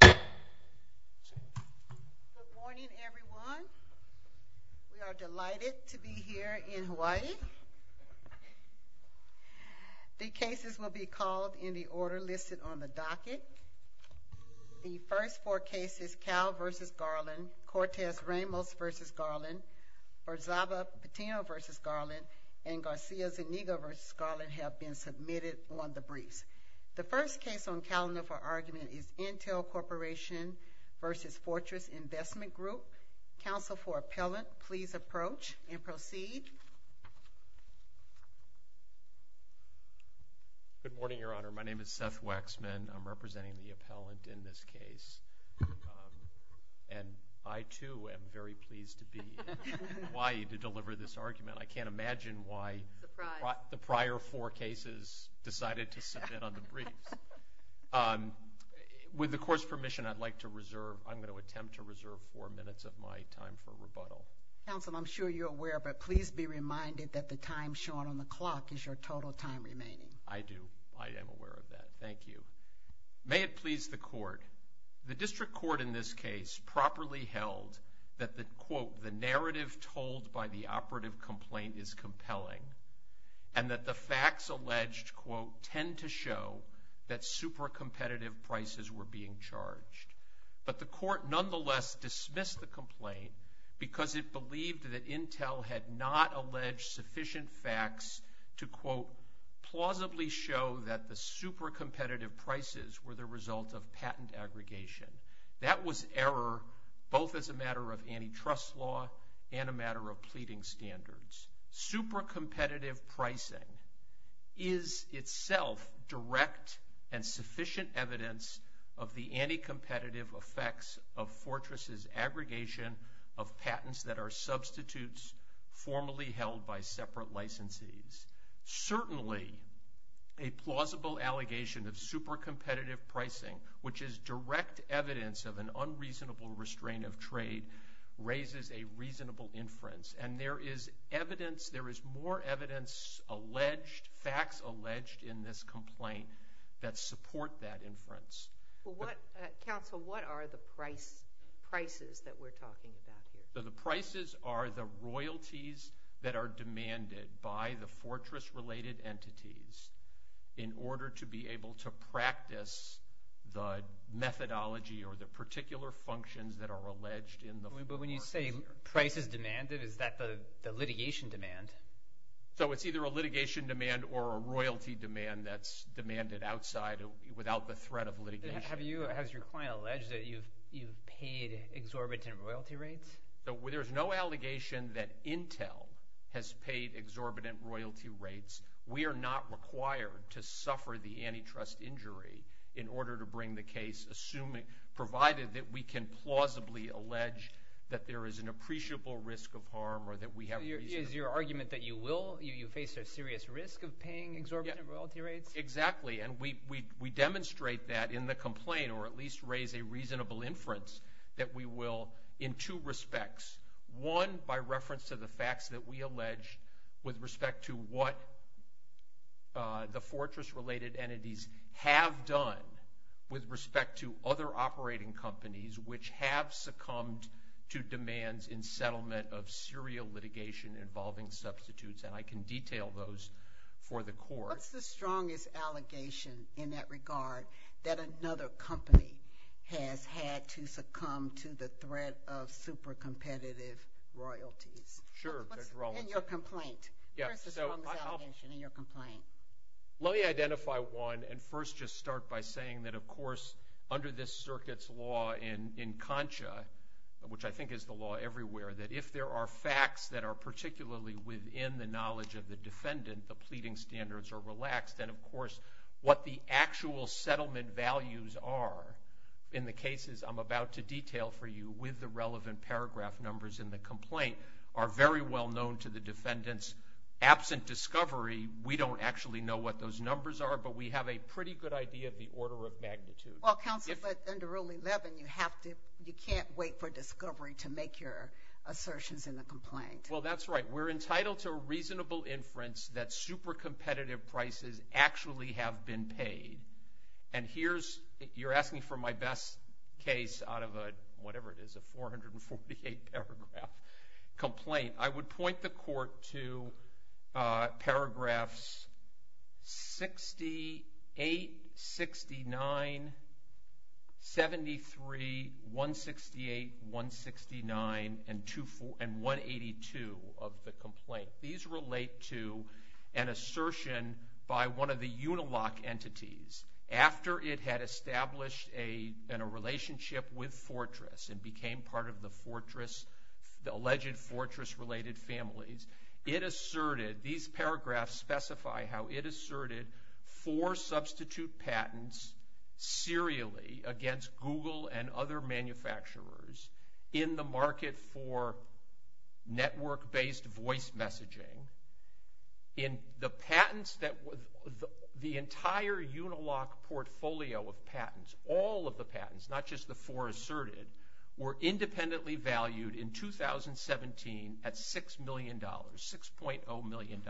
Good morning everyone. We are delighted to be here in Hawaii. The cases will be called in the order listed on the docket. The first four cases Cal v. Garland, Cortez Ramos v. Garland, Orzaba Patino v. Garland, and Garcia Zuniga v. Garland have been submitted on the briefs. The first case on the calendar for argument is Intel Corporation v. Fortress Investment Group. Counsel for appellant, please approach and proceed. Good morning, Your Honor. My name is Seth Waxman. I'm representing the appellant in this case. And I too am very pleased to be in Hawaii to deliver this argument. I can't imagine why the prior four cases decided to submit on the briefs. With the court's permission, I'd like to reserve, I'm going to attempt to reserve four minutes of my time for rebuttal. Counsel, I'm sure you're aware, but please be reminded that the time shown on the clock is your total time remaining. I do. I am aware of that. Thank you. May it please the court, the district court in this case properly held that the, quote, the narrative told by the operative complaint is compelling, and that the facts alleged, quote, tend to show that super competitive prices were being charged. But the court nonetheless dismissed the complaint because it believed that Intel had not alleged sufficient facts to, quote, plausibly show that the super competitive prices were the result of patent aggregation. That was error, both as a matter of antitrust law and a matter of pleading standards. Super competitive pricing is itself direct and sufficient evidence of the anti-competitive effects of Fortress's aggregation of patents that are pricing, which is direct evidence of an unreasonable restraint of trade, raises a reasonable inference. And there is evidence, there is more evidence alleged, facts alleged in this complaint that support that inference. But what, Counsel, what are the price, prices that we're talking about here? The prices are the royalties that are demanded by the Fortress-related entities in order to be able to practice the methodology or the particular functions that are alleged in the Fortress theory. But when you say prices demanded, is that the litigation demand? So it's either a litigation demand or a royalty demand that's demanded outside without the threat of litigation. Have you, has your client alleged that you've, you've paid exorbitant royalty rates? There's no allegation that Intel has paid exorbitant royalty rates. We are not required to suffer the antitrust injury in order to bring the case, assuming, provided that we can plausibly allege that there is an appreciable risk of harm or that we have reason to believe. Is your argument that you will, you face a serious risk of paying exorbitant royalty rates? Exactly. And we, we, we demonstrate that in the complaint, or at least raise a reasonable inference that we will in two respects. One, by reference to the facts that we allege with respect to what the Fortress-related entities have done with respect to other operating companies, which have succumbed to demands in settlement of serial litigation involving substitutes. And I can detail those for the court. What's the strongest allegation in that regard that another company has had to succumb to the threat of super competitive royalties? In your complaint, what's the strongest allegation in your complaint? Let me identify one and first just start by saying that, of course, under this circuit's law in, in CONCHA, which I think is the law everywhere, that if there are facts that are relaxed, then of course what the actual settlement values are in the cases I'm about to detail for you with the relevant paragraph numbers in the complaint are very well known to the defendants. Absent discovery, we don't actually know what those numbers are, but we have a pretty good idea of the order of magnitude. Well, counsel, but under Rule 11, you have to, you can't wait for discovery to make your assertions in the complaint. Well, that's right. We're entitled to a reasonable inference that super competitive prices actually have been paid. And here's, you're asking for my best case out of a, whatever it is, a 448 paragraph complaint. I would point the court to paragraphs 68, 69, 73, 168, 169, and 182 of the complaint. These relate to an assertion by one of the Unilock entities after it had established a, in a relationship with Fortress and became part of the Fortress, the alleged Fortress related families. It asserted, these paragraphs specify how it asserted four substitute patents serially against Google and other manufacturers in the market for network based voice messaging. In the patents that, the entire Unilock portfolio of patents, all of the patents, not just the four asserted, were independently valued in 2017 at $6 million, $6.0 million.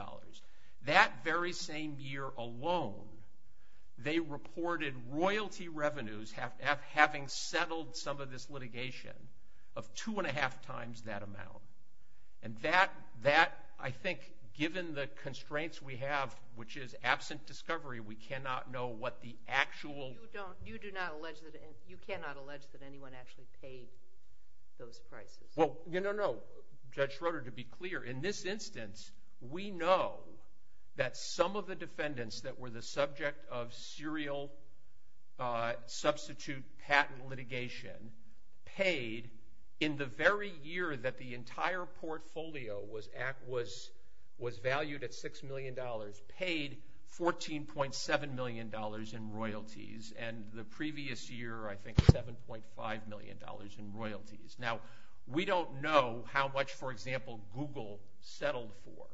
That very same year alone, they reported royalty revenues having settled some of this litigation of two and a half times that amount. And that, I think, given the constraints we have, which is absent discovery, we cannot know what the actual- You do not, you do not allege that, you cannot allege that anyone actually paid those prices. Well, no, no, no. Judge Schroeder, to be clear, in this instance, we know that some of the defendants that were the subject of serial substitute patent litigation paid, in the very year that the entire portfolio was valued at $6 million, paid $14.7 million in royalties. And the previous year, I think $7.5 million in royalties. Now, we don't know how much, for example, Google settled for,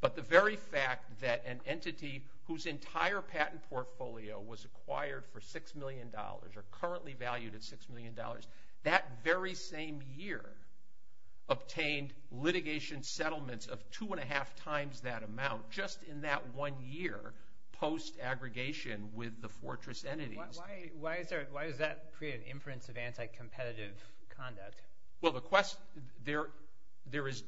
but the very fact that an entity whose entire patent portfolio was acquired for $6 million, or currently valued at $6 million, that very same year obtained litigation settlements of two and a half times that amount, just in that one year post-aggregation with the Fortress entities- Why is there, why does that create an inference of anti-competitive conduct? Well, the question, there, there is,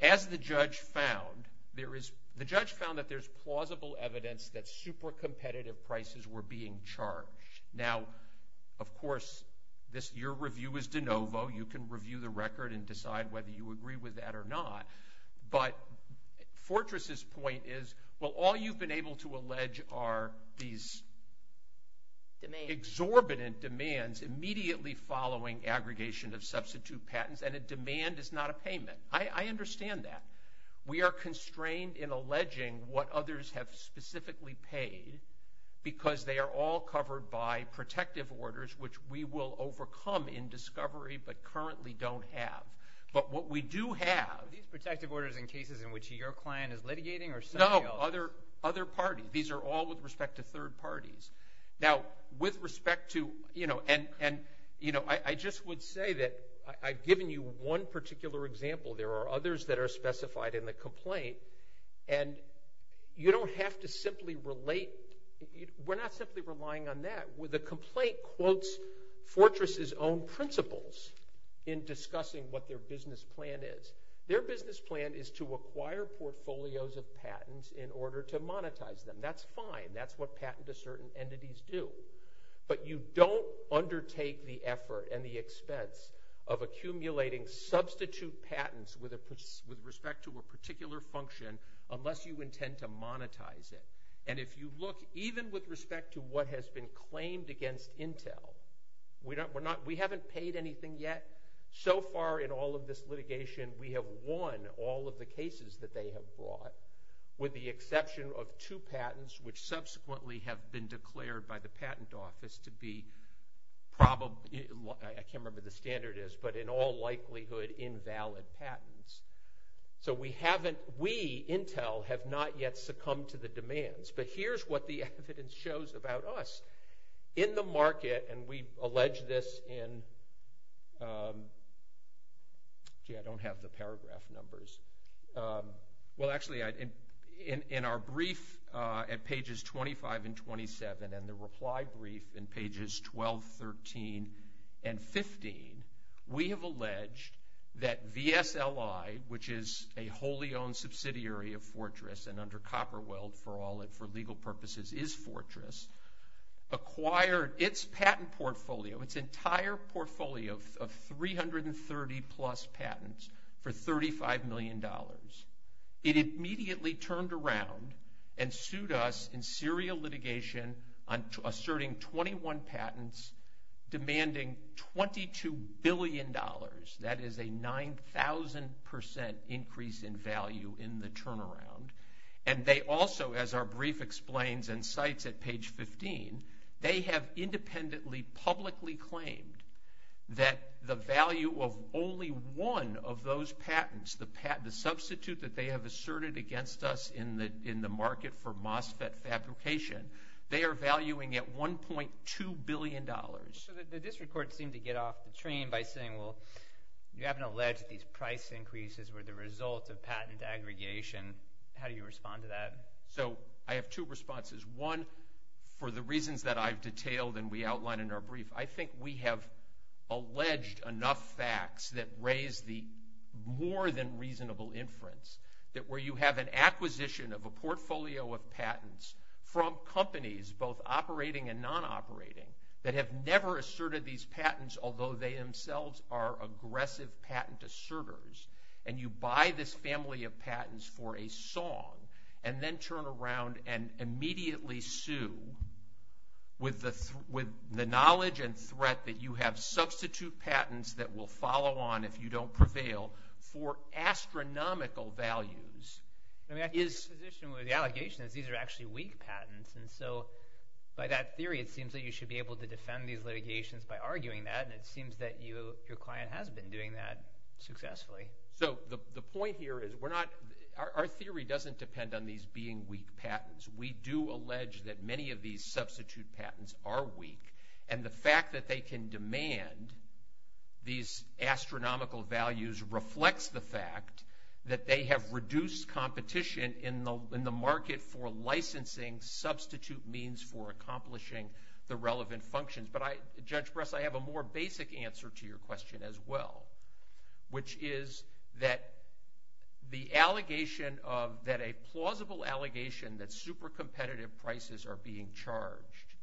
as the judge found, there is, the judge found that there's plausible evidence that super competitive prices were being charged. Now, of course, this, your review is de novo, you can review the record and decide whether you agree with that or not. But Fortress's point is, well, all you've been able to allege are these exorbitant demands immediately following aggregation of substitute patents, and a demand is not a payment. I understand that. We are constrained in alleging what others have specifically paid, because they are all covered by protective orders, which we will overcome in discovery, but currently don't have. But what we do have- These protective orders in cases in which your client is litigating or some- No, other, other parties. These are all with respect to third parties. Now, with respect to, you know, and, and, you know, I, I just would say that I, I've given you one particular example. There are others that are specified in the complaint, and you don't have to simply relate, we're not simply relying on that. The complaint quotes Fortress's own principles in discussing what their business plan is. Their business plan is to acquire portfolios of patents in order to monetize them. That's fine. That's what patent assertant entities do. But you don't undertake the effort and the expense of accumulating substitute patents with a, with respect to a particular function, unless you intend to monetize it. And if you look, even with respect to what has been claimed against Intel, we don't, we're not, we haven't paid anything yet. So far in all of this litigation, we have won all of the cases that they have brought, with the exception of two patents, which subsequently have been declared by the patent office to be probable- I can't remember what the standard is, but in all likelihood invalid patents. So we haven't, we, Intel, have not yet succumbed to the demands. But here's what the evidence shows about us. In the market, and we've alleged this in, gee, I don't have the paragraph numbers. Well, actually, in our brief at pages 25 and 27, and the reply brief in pages 12, 13, and 15, we have alleged that VSLI, which is a wholly owned subsidiary of Fortress and under is Fortress, acquired its patent portfolio, its entire portfolio of 330-plus patents for $35 million. It immediately turned around and sued us in serial litigation on asserting 21 patents demanding $22 billion. That is a 9,000% increase in value in the turnaround. And they also, as our brief explains and cites at page 15, they have independently publicly claimed that the value of only one of those patents, the substitute that they have asserted against us in the market for MOSFET fabrication, they are valuing at $1.2 billion. So the district courts seem to get off the train by saying, well, you haven't alleged that these price increases were the result of One, for the reasons that I've detailed and we outlined in our brief, I think we have alleged enough facts that raise the more than reasonable inference that where you have an acquisition of a portfolio of patents from companies, both operating and non-operating, that have never asserted these patents, although they themselves are aggressive patent asserters, and you buy this family of patents for a song and then turn around and immediately sue with the knowledge and threat that you have substitute patents that will follow on if you don't prevail for astronomical values. I mean, I think the position with the allegation is these are actually weak patents. And so by that theory, it seems that you should be able to defend these litigations by arguing that. And it seems that your client has been doing that successfully. So the point here is our theory doesn't depend on these being weak patents. We do allege that many of these substitute patents are weak. And the fact that they can demand these astronomical values reflects the fact that they have reduced competition in the market for licensing substitute means for accomplishing the relevant functions. Judge Bress, I have a more basic answer to your question as well, which is that a plausible allegation that super competitive prices are being charged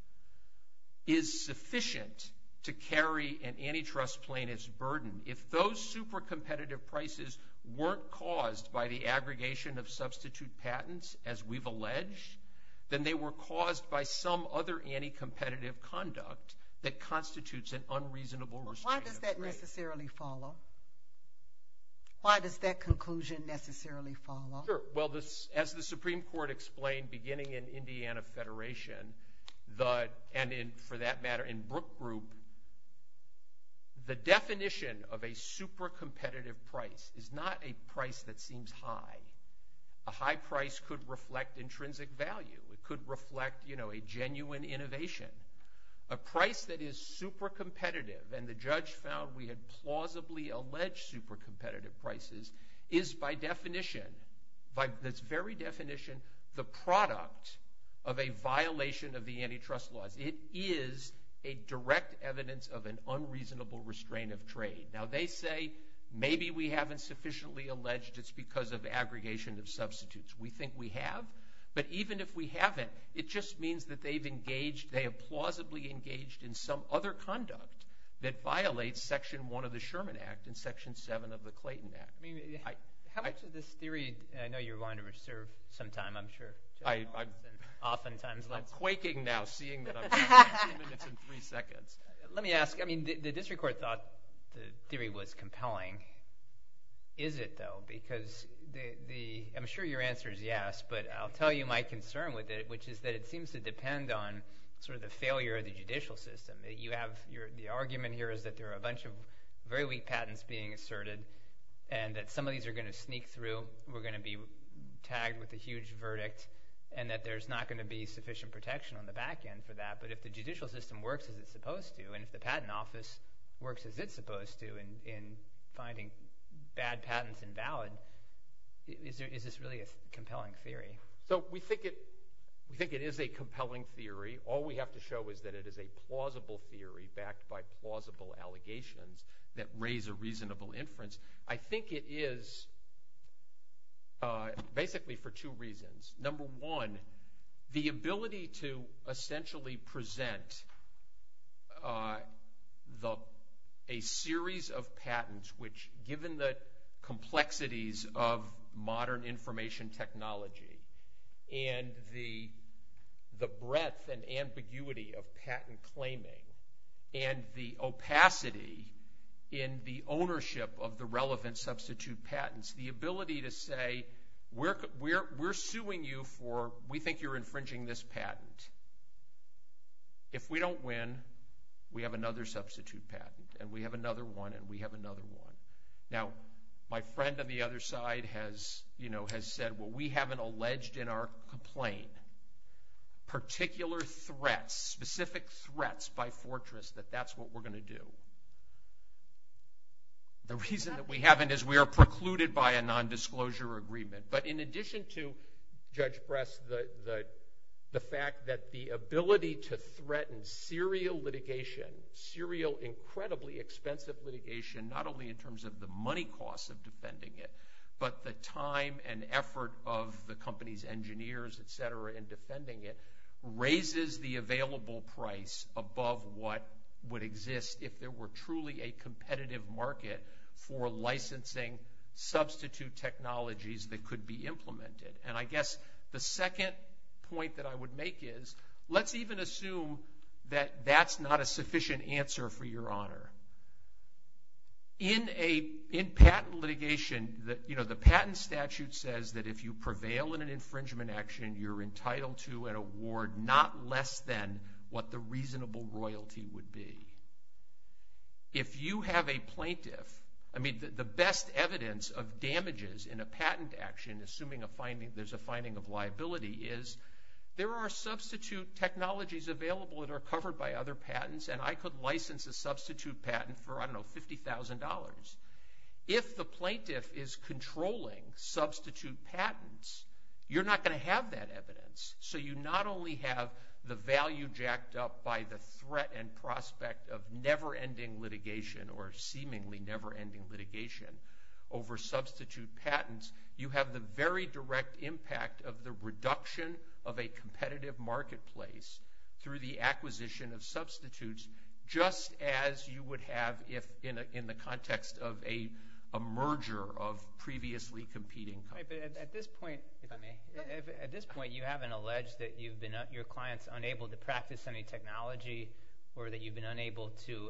is sufficient to carry an antitrust plaintiff's burden. If those super competitive prices weren't caused by the aggregation of substitute patents, as we've alleged, then they were caused by some other anti-competitive conduct that constitutes an unreasonable restraint of trade. But why does that necessarily follow? Why does that conclusion necessarily follow? Sure. Well, as the Supreme Court explained beginning in Indiana Federation, and for that matter in Brook Group, the definition of a super competitive price is not a price that seems high. A high price could reflect intrinsic value. It could reflect a genuine innovation. A price that is super competitive, and the judge found we had plausibly alleged super competitive prices, is by definition, by this very definition, the product of a violation of the antitrust laws. It is a direct evidence of an unreasonable restraint of trade. Now they say maybe we haven't sufficiently alleged it's because of aggregation of substitutes. We think we have, but even if we haven't, it just means that they've engaged, they have plausibly engaged in some other conduct that violates section one of the Sherman Act and section seven of the Clayton Act. I mean, how much of this theory, I know you're willing to reserve some time, I'm sure. Oftentimes. I'm quaking now seeing that I'm talking two minutes and three seconds. Let me ask, I mean, the district court thought the theory was compelling. Is it though? Because I'm sure your answer is yes, but I'll tell you my concern with it, which is that it seems to depend on sort of the failure of the judicial system. The argument here is that there are a bunch of very weak patents being asserted, and that some of these are going to sneak through, we're going to be tagged with a huge verdict, and that there's not going to be sufficient protection on the back end for that. But if the judicial system works as it's supposed to, and if the patent office works as it's supposed to in finding bad patents invalid, is this really a compelling theory? So we think it is a compelling theory. All we have to show is that it is a plausible theory backed by plausible allegations that raise a reasonable inference. I think it is basically for two reasons. Number one, the ability to essentially present a series of patents, which given the complexities of modern information technology, and the breadth and ambiguity of patent claiming, and the opacity in the ownership of the relevant substitute patents, the ability to say we're suing you for, we think you're infringing this patent. If we don't win, we have another substitute patent, and we have another one, and we have another one. Now, my friend on the other side has said, well, we haven't alleged in our complaint particular threats, specific threats by Fortress that that's what we're going to do. The reason that we haven't is we are precluded by a nondisclosure agreement. But in addition to, Judge Bress, the fact that the ability to threaten serial litigation, serial incredibly expensive litigation, not only in terms of the money costs of defending it, but the time and effort of the company's engineers, et cetera, in defending it, above what would exist if there were truly a competitive market for licensing substitute technologies that could be implemented. And I guess the second point that I would make is, let's even assume that that's not a sufficient answer for your honor. In patent litigation, the patent statute says that if you prevail in an infringement action, you're entitled to an award not less than what the reasonable royalty would be. If you have a plaintiff, I mean, the best evidence of damages in a patent action, assuming there's a finding of liability, is there are substitute technologies available that are covered by other patents, and I could license a substitute patent for, I don't know, $50,000. If the plaintiff is controlling substitute patents, you're not going to have that evidence. So you not only have the value jacked up by the threat and prospect of never ending litigation or seemingly never ending litigation over substitute patents, you have the very direct impact of the reduction of a competitive marketplace through the acquisition of substitutes, just as you would have if in the context of a merger of previously competing companies. Right, but at this point, if I may, at this point, you haven't alleged that you've been your clients unable to practice any technology or that you've been unable to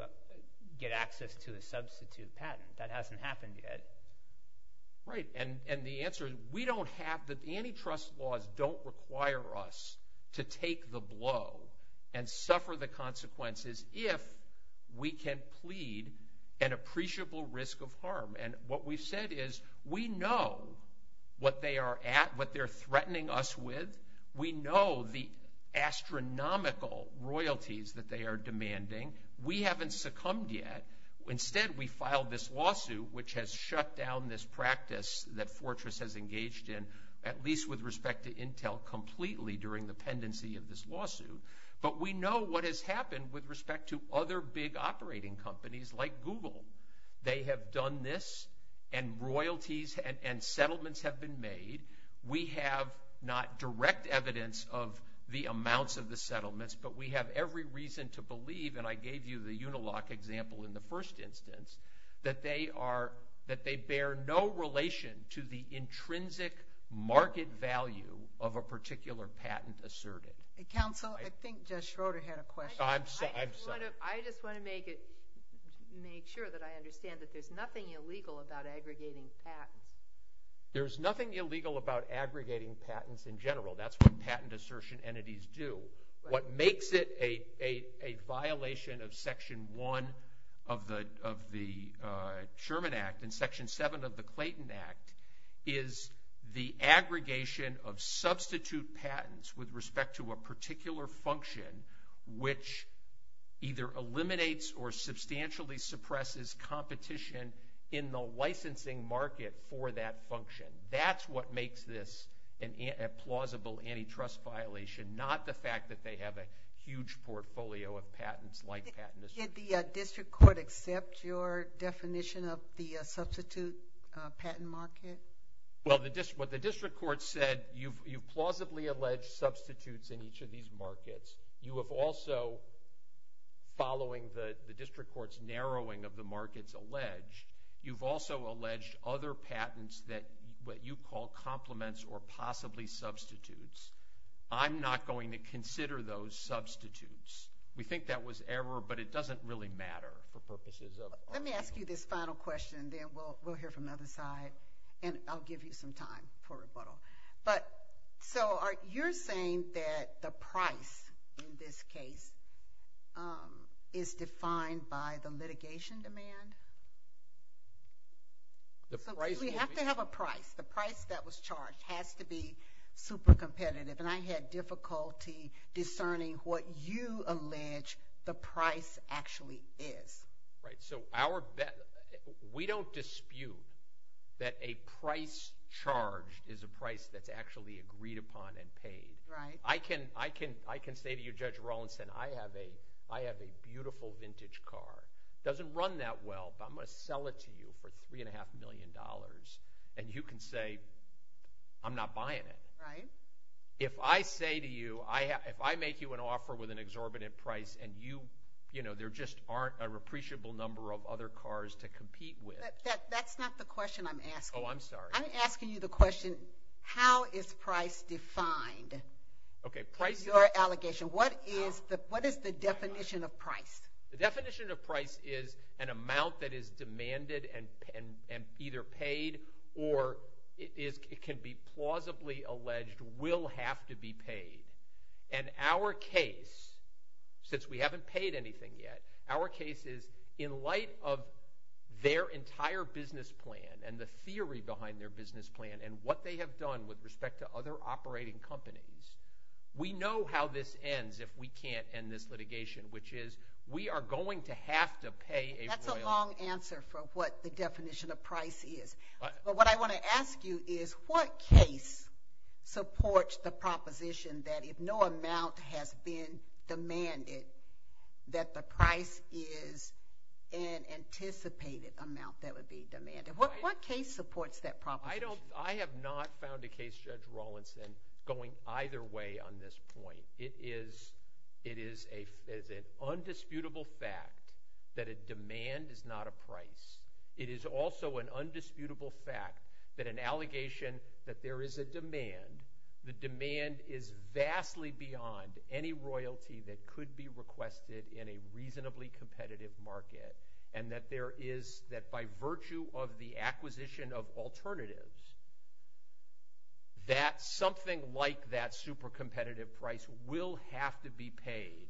get access to a substitute patent. That hasn't happened yet. Right, and the answer is we don't have, antitrust laws don't require us to take the blow and suffer the consequences if we can plead an appreciable risk of harm, and what we've said is we know what they are at, what they're threatening us with. We know the astronomical royalties that they are demanding. We haven't succumbed yet. Instead, we filed this lawsuit, which has shut down this practice that Fortress has engaged in, at least with respect to Intel, completely during the pendency of this lawsuit, but we know what has happened with respect to other big operating companies like Google. They have done this, and royalties and settlements have been made. We have not direct evidence of the amounts of the settlements, but we have every reason to believe, and I gave you the Unilock example in the first instance, that they bear no relation to the intrinsic market value of a particular patent asserted. Council, I think Jess Schroeder had a question. I'm sorry. I just want to make sure that I understand that there's nothing illegal about aggregating patents. There's nothing illegal about aggregating patents in general. That's what patent assertion entities do. What makes it a violation of Section 1 of the Sherman Act and Section 7 of the Clayton Act is the aggregation of substitute patents with respect to a particular function which either eliminates or substantially suppresses competition in the licensing market for that function. That's what makes this a plausible antitrust violation, not the fact that they have a huge portfolio of patents like patent assertion. Did the district court accept your definition of the substitute patent market? Well, what the district court said, you've plausibly alleged substitutes in each of these markets. You have also, following the district court's narrowing of the markets alleged, you've also alleged other patents that what you call complements or possibly substitutes. I'm not going to consider those substitutes. We think that was error, but it doesn't really matter for purposes of argument. Let me ask you this final question, then we'll hear from the other side, and I'll give you some time for rebuttal. So you're saying that the price in this case is defined by the litigation demand? We have to have a price. The price that was charged has to be super competitive, and I had difficulty discerning what you allege the price actually is. Right, so we don't dispute that a price charged is a price that's actually agreed upon and paid. I can say to you, Judge Rawlinson, I have a beautiful vintage car. It doesn't run that well, but I'm going to sell it to you for $3.5 million, and you can say, I'm not buying it. If I say to you, if I make you an offer with an exorbitant price and there just aren't a appreciable number of other cars to compete with. That's not the question I'm asking. Oh, I'm sorry. I'm asking you the question, how is price defined in your allegation? What is the definition of price? The definition of price is an amount that is demanded and either paid, or it can be plausibly alleged will have to be paid. And our case, since we haven't paid anything yet, our case is in light of their entire business plan and the theory behind their business plan and what they have done with respect to other operating companies. We know how this ends if we can't end this litigation, which is, we are going to have to pay a royalty. That's a long answer for what the definition of price is. But what I want to ask you is, what case supports the proposition that if no amount has been demanded, that the price is an anticipated amount that would be demanded? What case supports that proposition? I have not found a case, Judge Rawlinson, going either way on this point. It is an undisputable fact that a demand is not a price. It is also an undisputable fact that an allegation that there is a demand, the demand is vastly beyond any royalty that could be requested in reasonably competitive market. And that there is, that by virtue of the acquisition of alternatives, that something like that super competitive price will have to be paid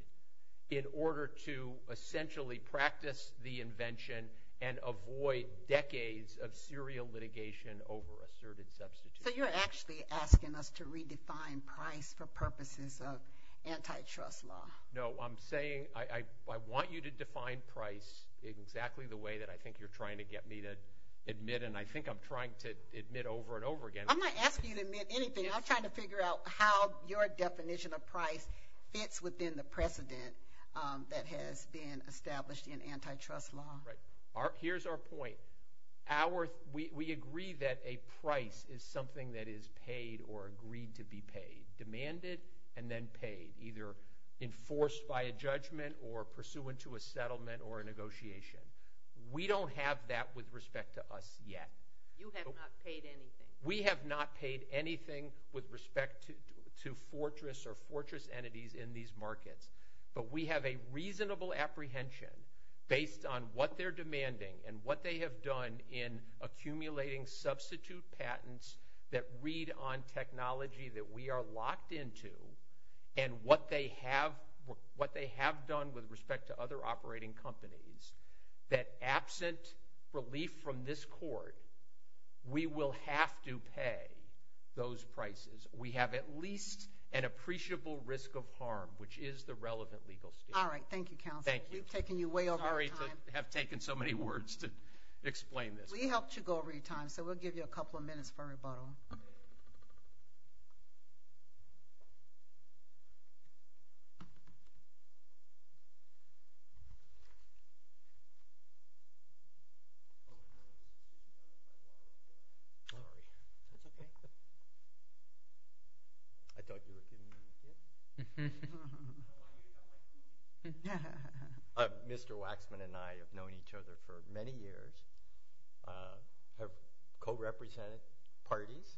in order to essentially practice the invention and avoid decades of serial litigation over asserted substitutes. So you're actually asking us to redefine price for purposes of antitrust law? No, I'm saying, I want you to define price exactly the way that I think you're trying to get me to admit, and I think I'm trying to admit over and over again. I'm not asking you to admit anything. I'm trying to figure out how your definition of price fits within the precedent that has been established in antitrust law. Right. Here's our point. We agree that a price is something that is paid or agreed to be paid, demanded, and then paid, either enforced by a judgment or pursuant to a settlement or a negotiation. We don't have that with respect to us yet. You have not paid anything. We have not paid anything with respect to fortress or fortress entities in these markets, but we have a reasonable apprehension based on what they're demanding and what they have done in accumulating substitute patents that read on technology that we are locked into and what they have done with respect to other operating companies, that absent relief from this court, we will have to pay those prices. We have at least an appreciable risk of harm, which is the relevant legal scheme. All right. Thank you, counsel. Thank you. We've taken you way over time. I have taken so many words to explain this. We helped you go over your time, so we'll give you a couple of minutes for rebuttal. Mr. Waxman and I have known each other for many years, have co-represented parties.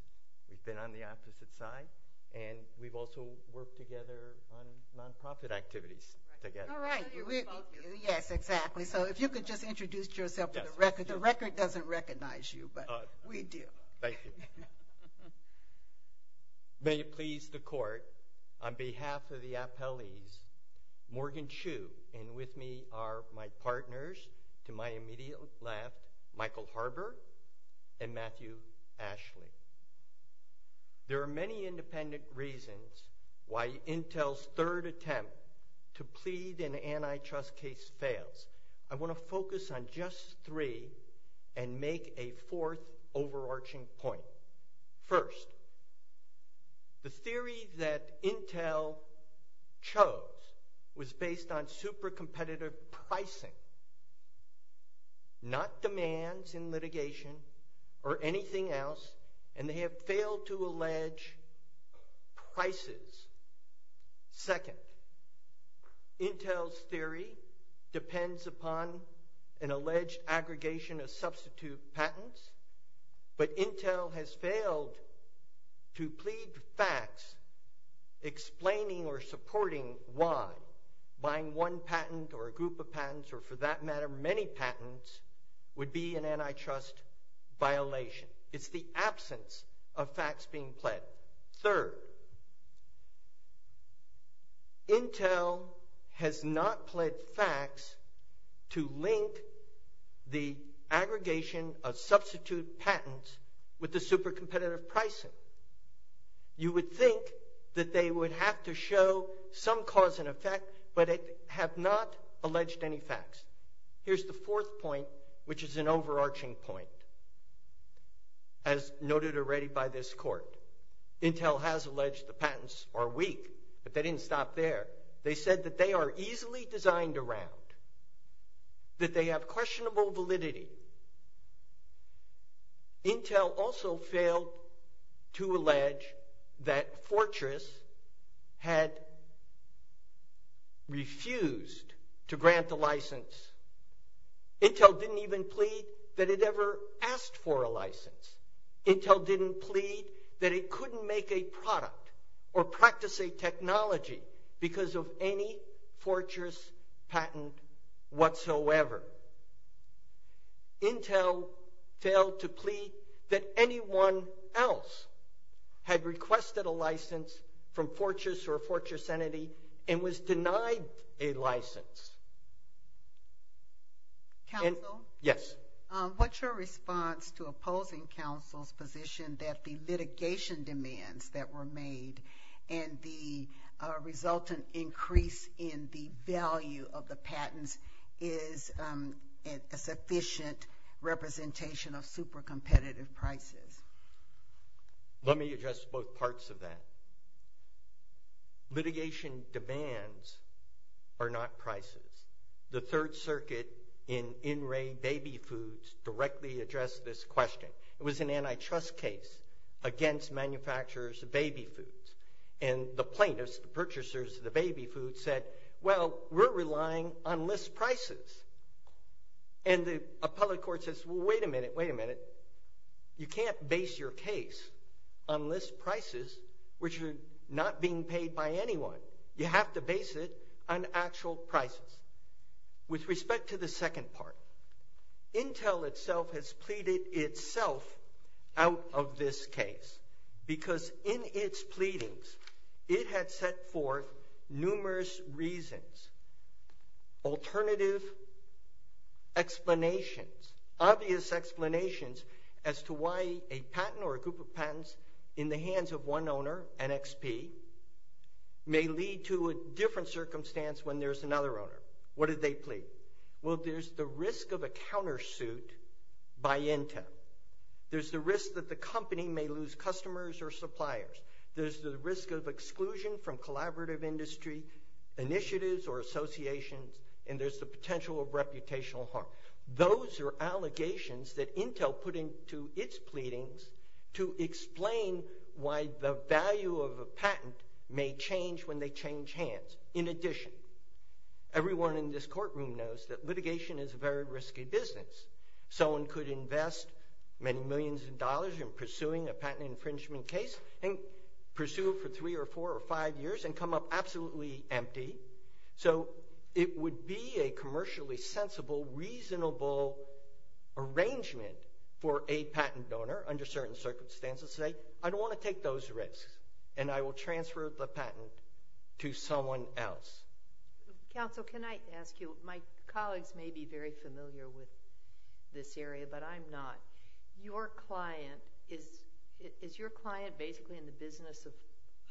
We've been on the opposite side, and we've also worked together on non-profit activities together. All right. Yes, exactly. So if you could just introduce yourself for the record. The record doesn't recognize you, but we do. Thank you. May it please the court, on behalf of the appellees, Morgan Chu, and with me are my partners to my immediate left, Michael Harbert and Matthew Ashley. There are many independent reasons why Intel's third attempt to plead an antitrust case fails. I want to focus on just three and make a fourth overarching point. First, the theory that Intel chose was based on super competitive pricing, not demands in litigation or anything else, and they have failed to allege prices. Second, Intel's theory depends upon an alleged aggregation of substitute patents, but Intel has failed to plead facts explaining or supporting why buying one patent or a group of patents, or for that matter many patents, would be an antitrust violation. It's the absence of facts being pledged. Third, Intel has not pledged facts to link the aggregation of substitute patents with the super competitive pricing. You would think that they would have to show some cause and effect, but they have not alleged any facts. Here's the fourth point, which is an overarching point. As noted already by this court, Intel has alleged the patents are weak, but they didn't stop there. They said that they are easily designed around, that they have questionable validity. Intel also failed to allege that Fortress had refused to grant the license. Intel didn't even plead that it ever asked for a license. Intel didn't plead that it couldn't make a product or practice a technology because of any Fortress patent whatsoever. Intel failed to plead that anyone else had requested a license from Fortress or a Fortress entity and was denied a license. Counsel? Yes. What's your response to opposing counsel's position that the litigation demands that were made and the resultant increase in the value of the patents is a sufficient representation of super competitive prices? Let me address both parts of that. Litigation demands are not prices. The Third Circuit in in-ray baby foods directly addressed this question. It was an antitrust case against manufacturers of baby foods, and the plaintiffs, the purchasers of the baby foods, said, well, we're relying on list prices. And the appellate court says, well, wait a minute, wait a minute. You can't base your case on list prices, which are not being paid by anyone. You have to base it on actual prices. With respect to the second part, Intel itself has pleaded itself out of this case because in its pleadings it had set forth numerous reasons, alternative explanations, obvious explanations as to why a patent or a group of patents in the hands of one owner, an XP, may lead to a different circumstance when there's another owner. What did they plead? Well, there's the risk of a countersuit by Intel. There's the risk that the company may lose customers or suppliers. There's the risk of exclusion from collaborative industry initiatives or associations, and there's the potential of reputational harm. Those are allegations that Intel put into its pleadings to explain why the value of a patent may change when they change hands. In addition, everyone in this courtroom knows that litigation is a very risky business. Someone could invest many millions of dollars in pursuing a patent infringement case and pursue it for three or four or five years and come up absolutely empty. So, it would be a commercially sensible, reasonable arrangement for a patent donor under certain circumstances to say, I don't want to take those risks and I will transfer the patent to someone else. Counsel, can I ask you, my colleagues may be very familiar with this area, but I'm not. Is your client basically in the business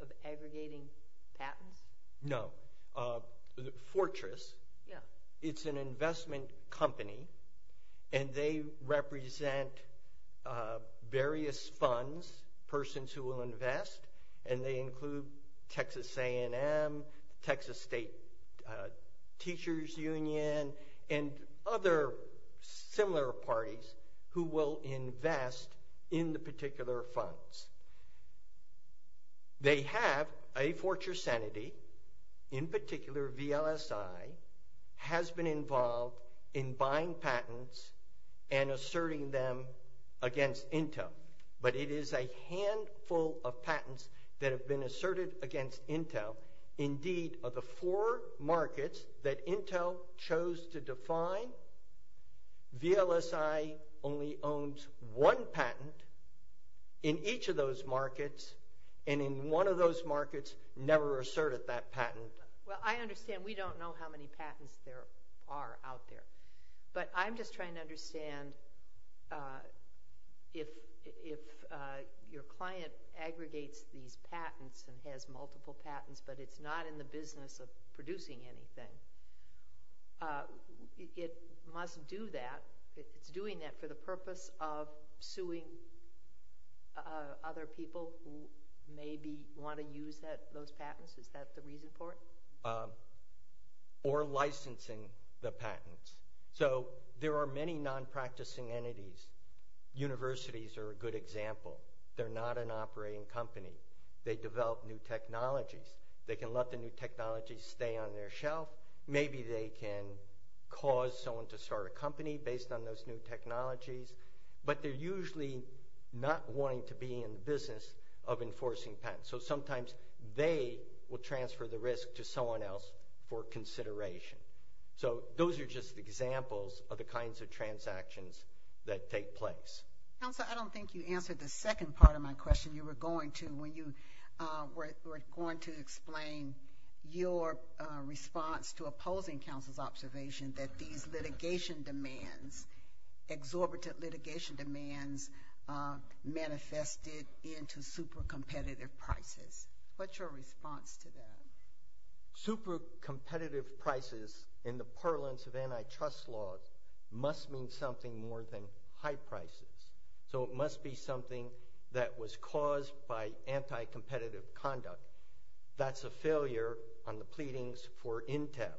of aggregating patents? No. Fortress, it's an investment company and they represent various funds, persons who will invest, and they include Texas A&M, Texas State Teachers Union, and other similar parties who will invest in the particular funds. They have a Fortress Sanity, in particular VLSI, has been involved in buying patents and asserting them against Intel, but it is a handful of patents that have been asserted against Intel. Indeed, of the four markets that Intel chose to define, VLSI only owns one patent in each of those markets and in one of those markets never asserted that patent. Well, I understand we don't know how many patents there are out there, but I'm just trying to understand if your client aggregates these patents and has multiple patents, but it's not in the business of producing anything. It must do that. It's doing that for the purpose of suing other people who maybe want to use those patents. Is that the reason for it? Or licensing the patents. So, there are many non-practicing entities. Universities are a good technology to stay on their shelf. Maybe they can cause someone to start a company based on those new technologies, but they're usually not wanting to be in the business of enforcing patents. So, sometimes they will transfer the risk to someone else for consideration. So, those are just examples of the kinds of transactions that take place. Council, I don't think you answered the second part of my question. You were going to when you were going to explain your response to opposing counsel's observation that these litigation demands, exorbitant litigation demands manifested into super competitive prices. What's your response to that? Super competitive prices in the parlance of antitrust laws must mean something more than high prices. So, it must be something that was caused by anti-competitive conduct. That's a failure on the pleadings for Intel.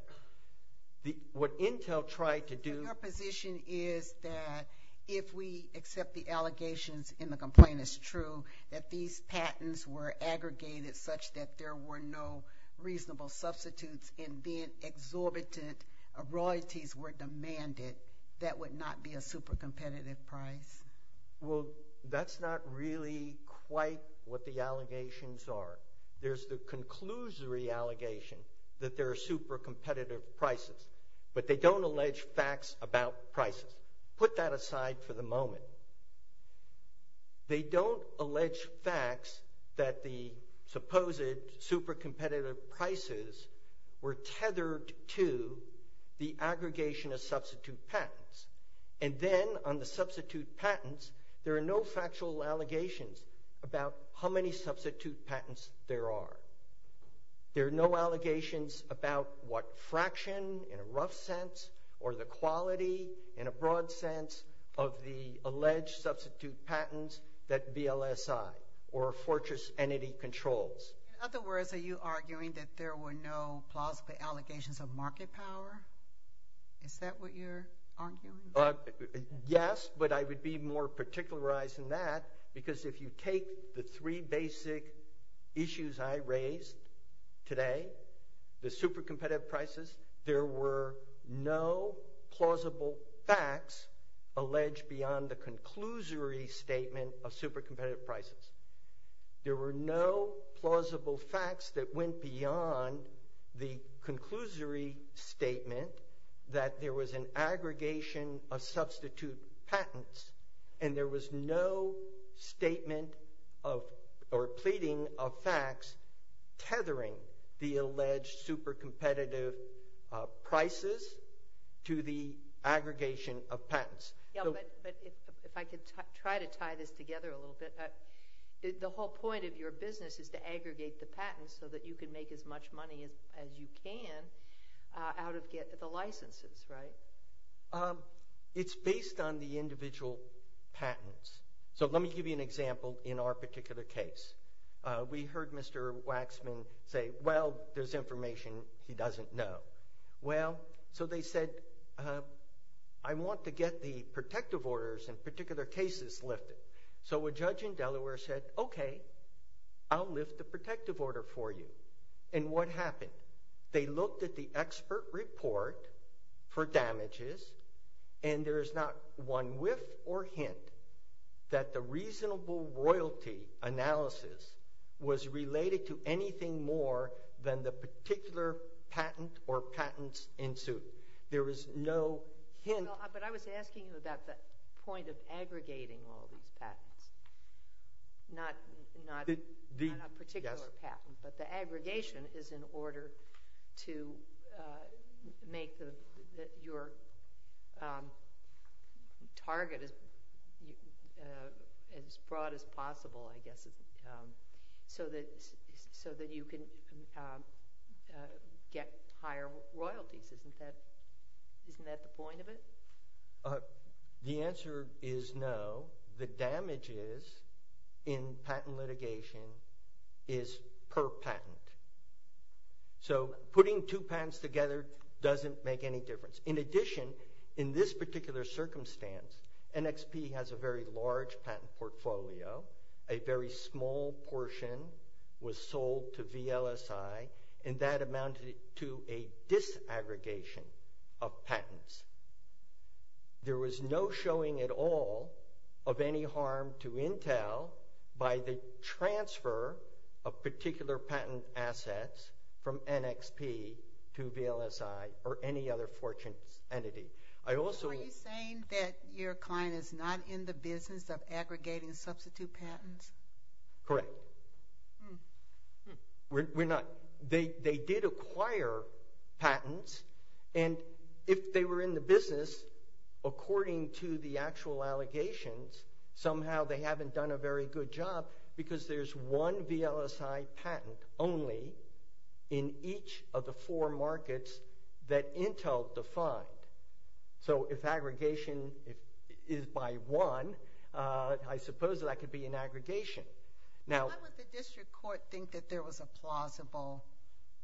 What Intel tried to do... Your position is that if we accept the allegations in the complaint is true, that these patents were aggregated such that there were no reasonable substitutes and then exorbitant royalties were demanded, that would not be a super competitive price. Well, that's not really quite what the allegations are. There's the conclusory allegation that there are super competitive prices, but they don't allege facts about prices. Put that aside for the moment. They don't allege facts that the supposed super competitive prices were tethered to the aggregation of substitute patents. And then on the substitute patents, there are no factual allegations about how many substitute patents there are. There are no allegations about what fraction in a rough sense or the quality in a broad sense of the alleged substitute patents that BLSI or Fortress entity controls. In other words, are you arguing that there were no allegations of market power? Is that what you're arguing? Yes, but I would be more particularized in that because if you take the three basic issues I raised today, the super competitive prices, there were no plausible facts alleged beyond the conclusory statement of super competitive prices. There were no plausible facts that went beyond the conclusory statement that there was an aggregation of substitute patents. And there was no statement of or pleading of facts tethering the alleged super competitive prices to the aggregation of patents. Yeah, but if I could try to tie this together a little bit, the whole point of your business is to aggregate the patents so that you can make as you can out of the licenses, right? It's based on the individual patents. So let me give you an example in our particular case. We heard Mr. Waxman say, well, there's information he doesn't know. Well, so they said, I want to get the protective orders in particular cases lifted. So a judge in Delaware said, okay, I'll lift the protective order for you. And what happened? They looked at the expert report for damages and there is not one whiff or hint that the reasonable royalty analysis was related to anything more than the particular patent or patents in suit. There was no hint. But I was asking you about the point of aggregating all these patents, not a particular patent, but the aggregation is in order to make your target as broad as possible, I guess, so that you can get higher royalties. Isn't that the point of it? The answer is no. The damages in patent litigation is per patent. So putting two patents together doesn't make any difference. In addition, in this particular circumstance, NXP has a very large patent portfolio, a very small portion was sold to VLSI, and that amounted to a disaggregation of patents. There was no showing at all of any harm to Intel by the transfer of particular patent assets from NXP to VLSI or any other fortunes entity. Are you saying that your client is not in the patents? Correct. They did acquire patents and if they were in the business, according to the actual allegations, somehow they haven't done a very good job because there's one VLSI patent only in each of the four markets that Intel defined. So if aggregation is by one, I suppose that could be an aggregation. Why would the district court think that there was a plausible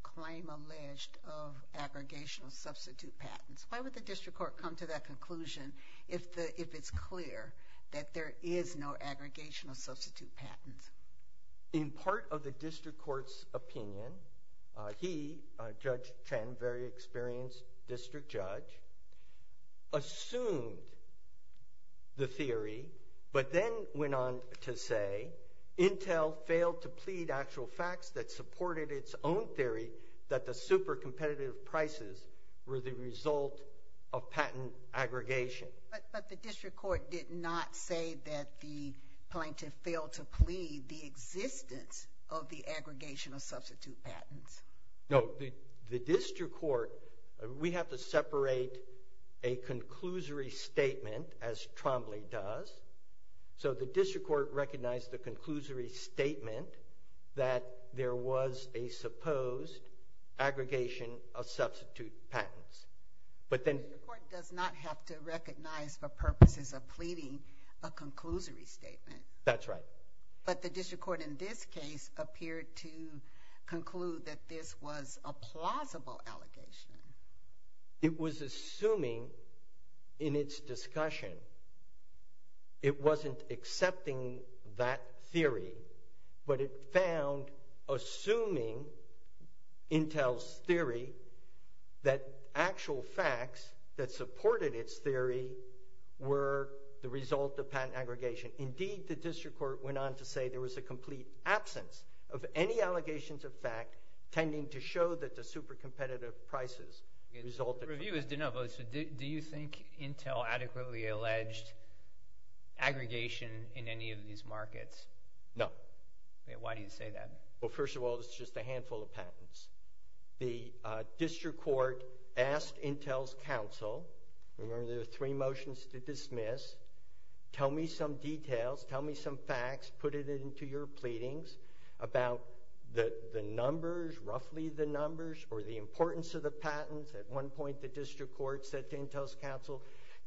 claim alleged of aggregational substitute patents? Why would the district court come to that conclusion if it's clear that there is no aggregational substitute patents? In part of the district court's opinion, he, Judge Chen, a very experienced district judge, assumed the theory but then went on to say Intel failed to plead actual facts that supported its own theory that the super competitive prices were the result of patent aggregation. But the district court did not say that the plaintiff failed to plead the existence of the aggregational substitute patents. No, the district court, we have to separate a conclusory statement as Trombley does. So the district court recognized the conclusory statement that there was a supposed aggregation of substitute patents. But then the court does not have to recognize the purposes of pleading a conclusory statement. That's right. But the district court in this case appeared to conclude that this was a plausible allegation. It was assuming in its discussion it wasn't accepting that theory, but it found assuming Intel's theory that actual facts that supported its theory were the result of patent aggregation. Indeed, the district court went on to say there was a complete absence of any allegations of fact tending to show that the super competitive prices resulted. Reviewers, do you think Intel adequately alleged aggregation in any of these markets? No. Why do you say that? Well, remember there are three motions to dismiss. Tell me some details, tell me some facts, put it into your pleadings about the numbers, roughly the numbers, or the importance of the patents. At one point, the district court said to Intel's counsel,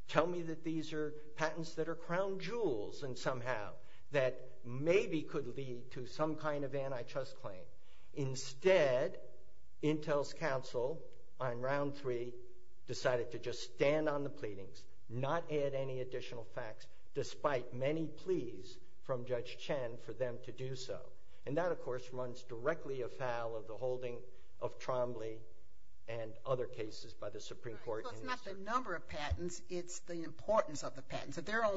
tell me that these are patents that are crown jewels and somehow that maybe could lead to some kind of antitrust claim. Instead, Intel's counsel on round three decided to just stand on the pleadings, not add any additional facts, despite many pleas from Judge Chen for them to do so. And that, of course, runs directly afoul of the holding of Trombley and other cases by the Supreme Court. It's not the number of patents, it's the importance of the patents. If there are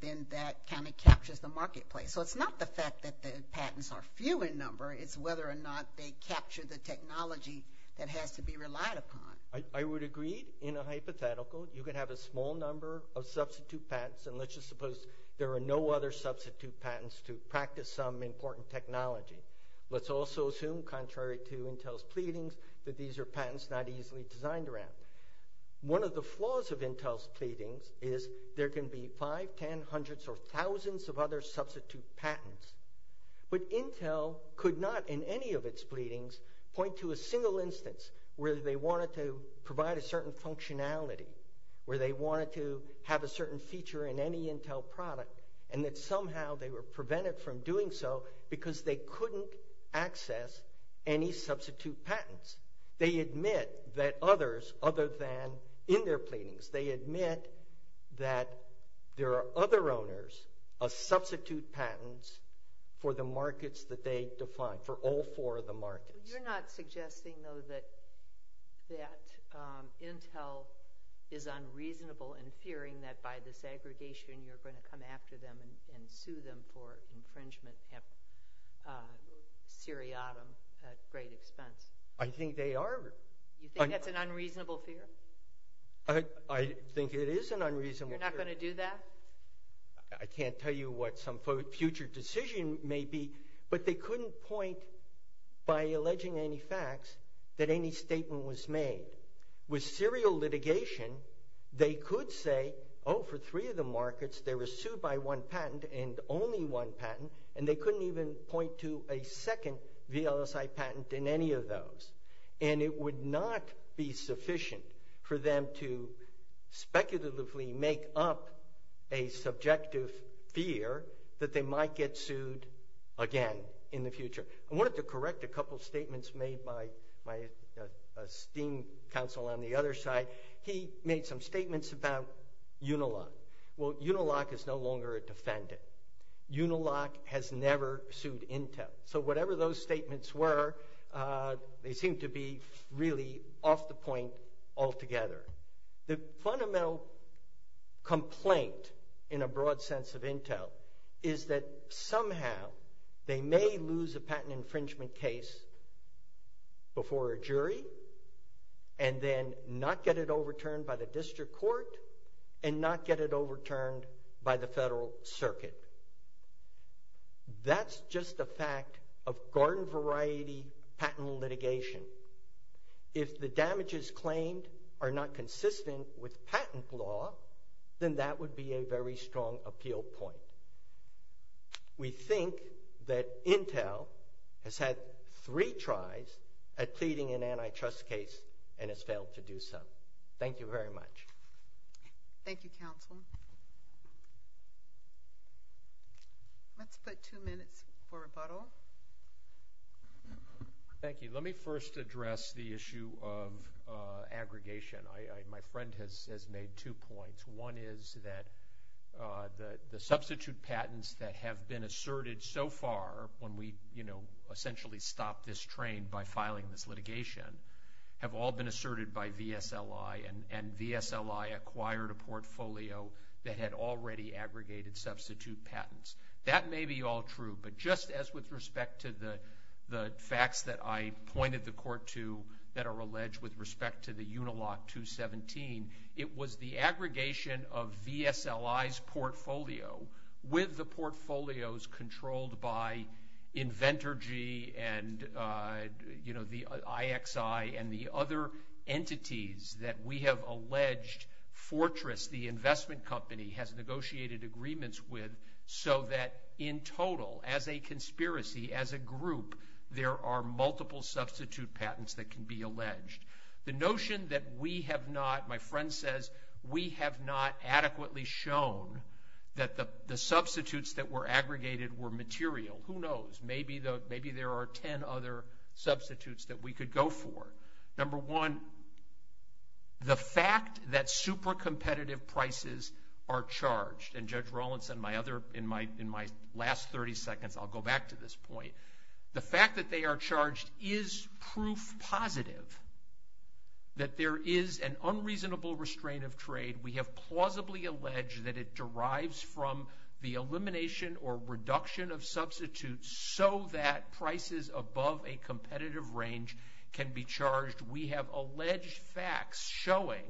then that kind of captures the marketplace. So it's not the fact that the patents are few in number, it's whether or not they capture the technology that has to be relied upon. I would agree in a hypothetical, you can have a small number of substitute patents and let's just suppose there are no other substitute patents to practice some important technology. Let's also assume, contrary to Intel's pleadings, that these are patents not easily designed around. One of the flaws of Intel's pleadings is there can be five, ten, hundreds, or thousands of other substitute patents. But Intel could not in any of its pleadings point to a single instance where they wanted to provide a certain functionality, where they wanted to have a certain feature in any Intel product, and that somehow they were prevented from doing so because they couldn't access any substitute patents. They admit that others, other than in their pleadings, they admit that there are other owners of substitute patents for the markets that they define, for all four of the markets. You're not suggesting though that Intel is unreasonable in fearing that by this aggregation you're going to come after them and sue them for infringement, seriatim, at great expense. I think they are. You think that's an unreasonable fear? I think it is an unreasonable fear. You're not going to do that? I can't tell you what some future decision may be, but they couldn't point by alleging any facts that any statement was made. With serial litigation, they could say, oh, for three of the markets they were sued by one patent and only one patent, and they couldn't even point to a second VLSI patent in any of those. And it would not be sufficient for them to speculatively make up a subjective fear that they might get sued again in the future. I wanted to correct a couple of statements made by my esteemed counsel on the other side. He made some statements about Unilock. Well, Unilock is no longer a defendant. Unilock has never sued Intel. So whatever those statements were, they seem to be really off the point altogether. The fundamental complaint in a broad sense of lose a patent infringement case before a jury and then not get it overturned by the district court and not get it overturned by the federal circuit. That's just a fact of garden variety patent litigation. If the damages claimed are not consistent with patent law, then that would be a very strong appeal point. We think that Intel has had three tries at pleading an antitrust case and has failed to do so. Thank you very much. Thank you, counsel. Let's put two minutes for rebuttal. Thank you. Let me first address the issue of the substitute patents that have been asserted so far when we essentially stopped this train by filing this litigation have all been asserted by VSLI and VSLI acquired a portfolio that had already aggregated substitute patents. That may be all true, but just as with respect to the facts that I pointed the court to that are alleged with respect to the Unilock 217, it was the aggregation of VSLI's portfolio with the portfolios controlled by Inventorgy and the IXI and the other entities that we have alleged Fortress, the investment company, has negotiated agreements with so that in total as a conspiracy, as a group, there are multiple substitute patents that can be alleged. The notion that we have not, my friend says, we have not adequately shown that the substitutes that were aggregated were material. Who knows? Maybe there are 10 other substitutes that we could go for. Number one, the fact that super competitive prices are charged, and Judge Rawlinson, in my last 30 seconds, I'll go back to this point. The fact that they are charged is proof positive that there is an unreasonable restraint of trade. We have plausibly alleged that it derives from the elimination or reduction of substitutes so that prices above a competitive range can be charged. We have alleged facts showing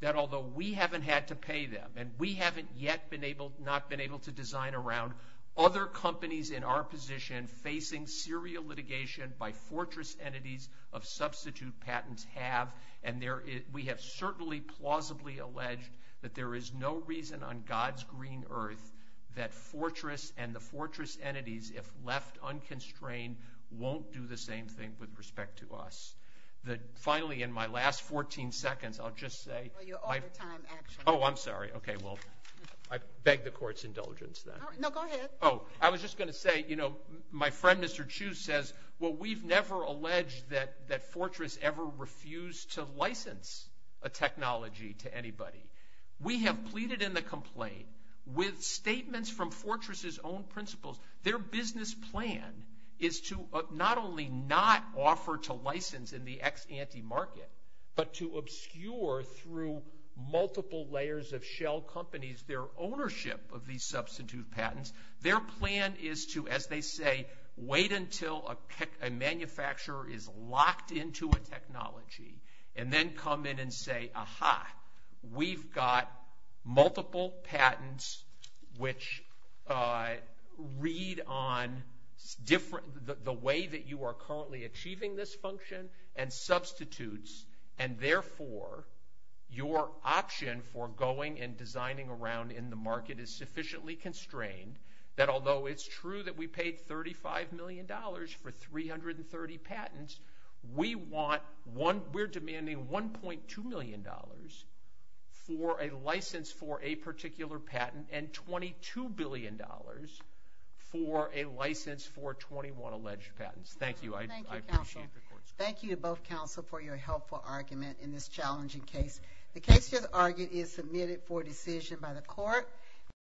that although we haven't had to pay them and we haven't yet been able, not been able to design around other companies in our position facing serial litigation by Fortress entities of substitute patents have, and we have certainly plausibly alleged that there is no reason on God's green earth that Fortress and the Fortress entities, if left unconstrained, won't do the same thing with respect to us. Finally, in my last 14 seconds, I'll just say... Well, you're all the time action. Oh, I'm sorry. Okay. Well, I beg the court's indulgence then. No, go ahead. Oh, I was just going to say, my friend, Mr. Chu says, well, we've never alleged that Fortress ever refused to license a technology to anybody. We have pleaded in the complaint with statements from Fortress's own principles. Their business plan is to not only not offer to license in the ex-ante market, but to obscure through multiple layers of shell companies, their ownership of these substitute patents. Their plan is to, as they say, wait until a manufacturer is locked into a technology and then come in and say, aha, we've got multiple patents which read on the way that you are currently achieving this function and substitutes. And therefore, your option for going and designing around in the market is sufficiently constrained that although it's true that we paid $35 million for 330 patents, we're demanding $1.2 million for a license for a particular patent and $22 billion for a license for 21 alleged patents. Thank you. I appreciate the court's- Thank you, counsel. Thank you to both for your helpful argument in this challenging case. The case just argued is submitted for decision by the court.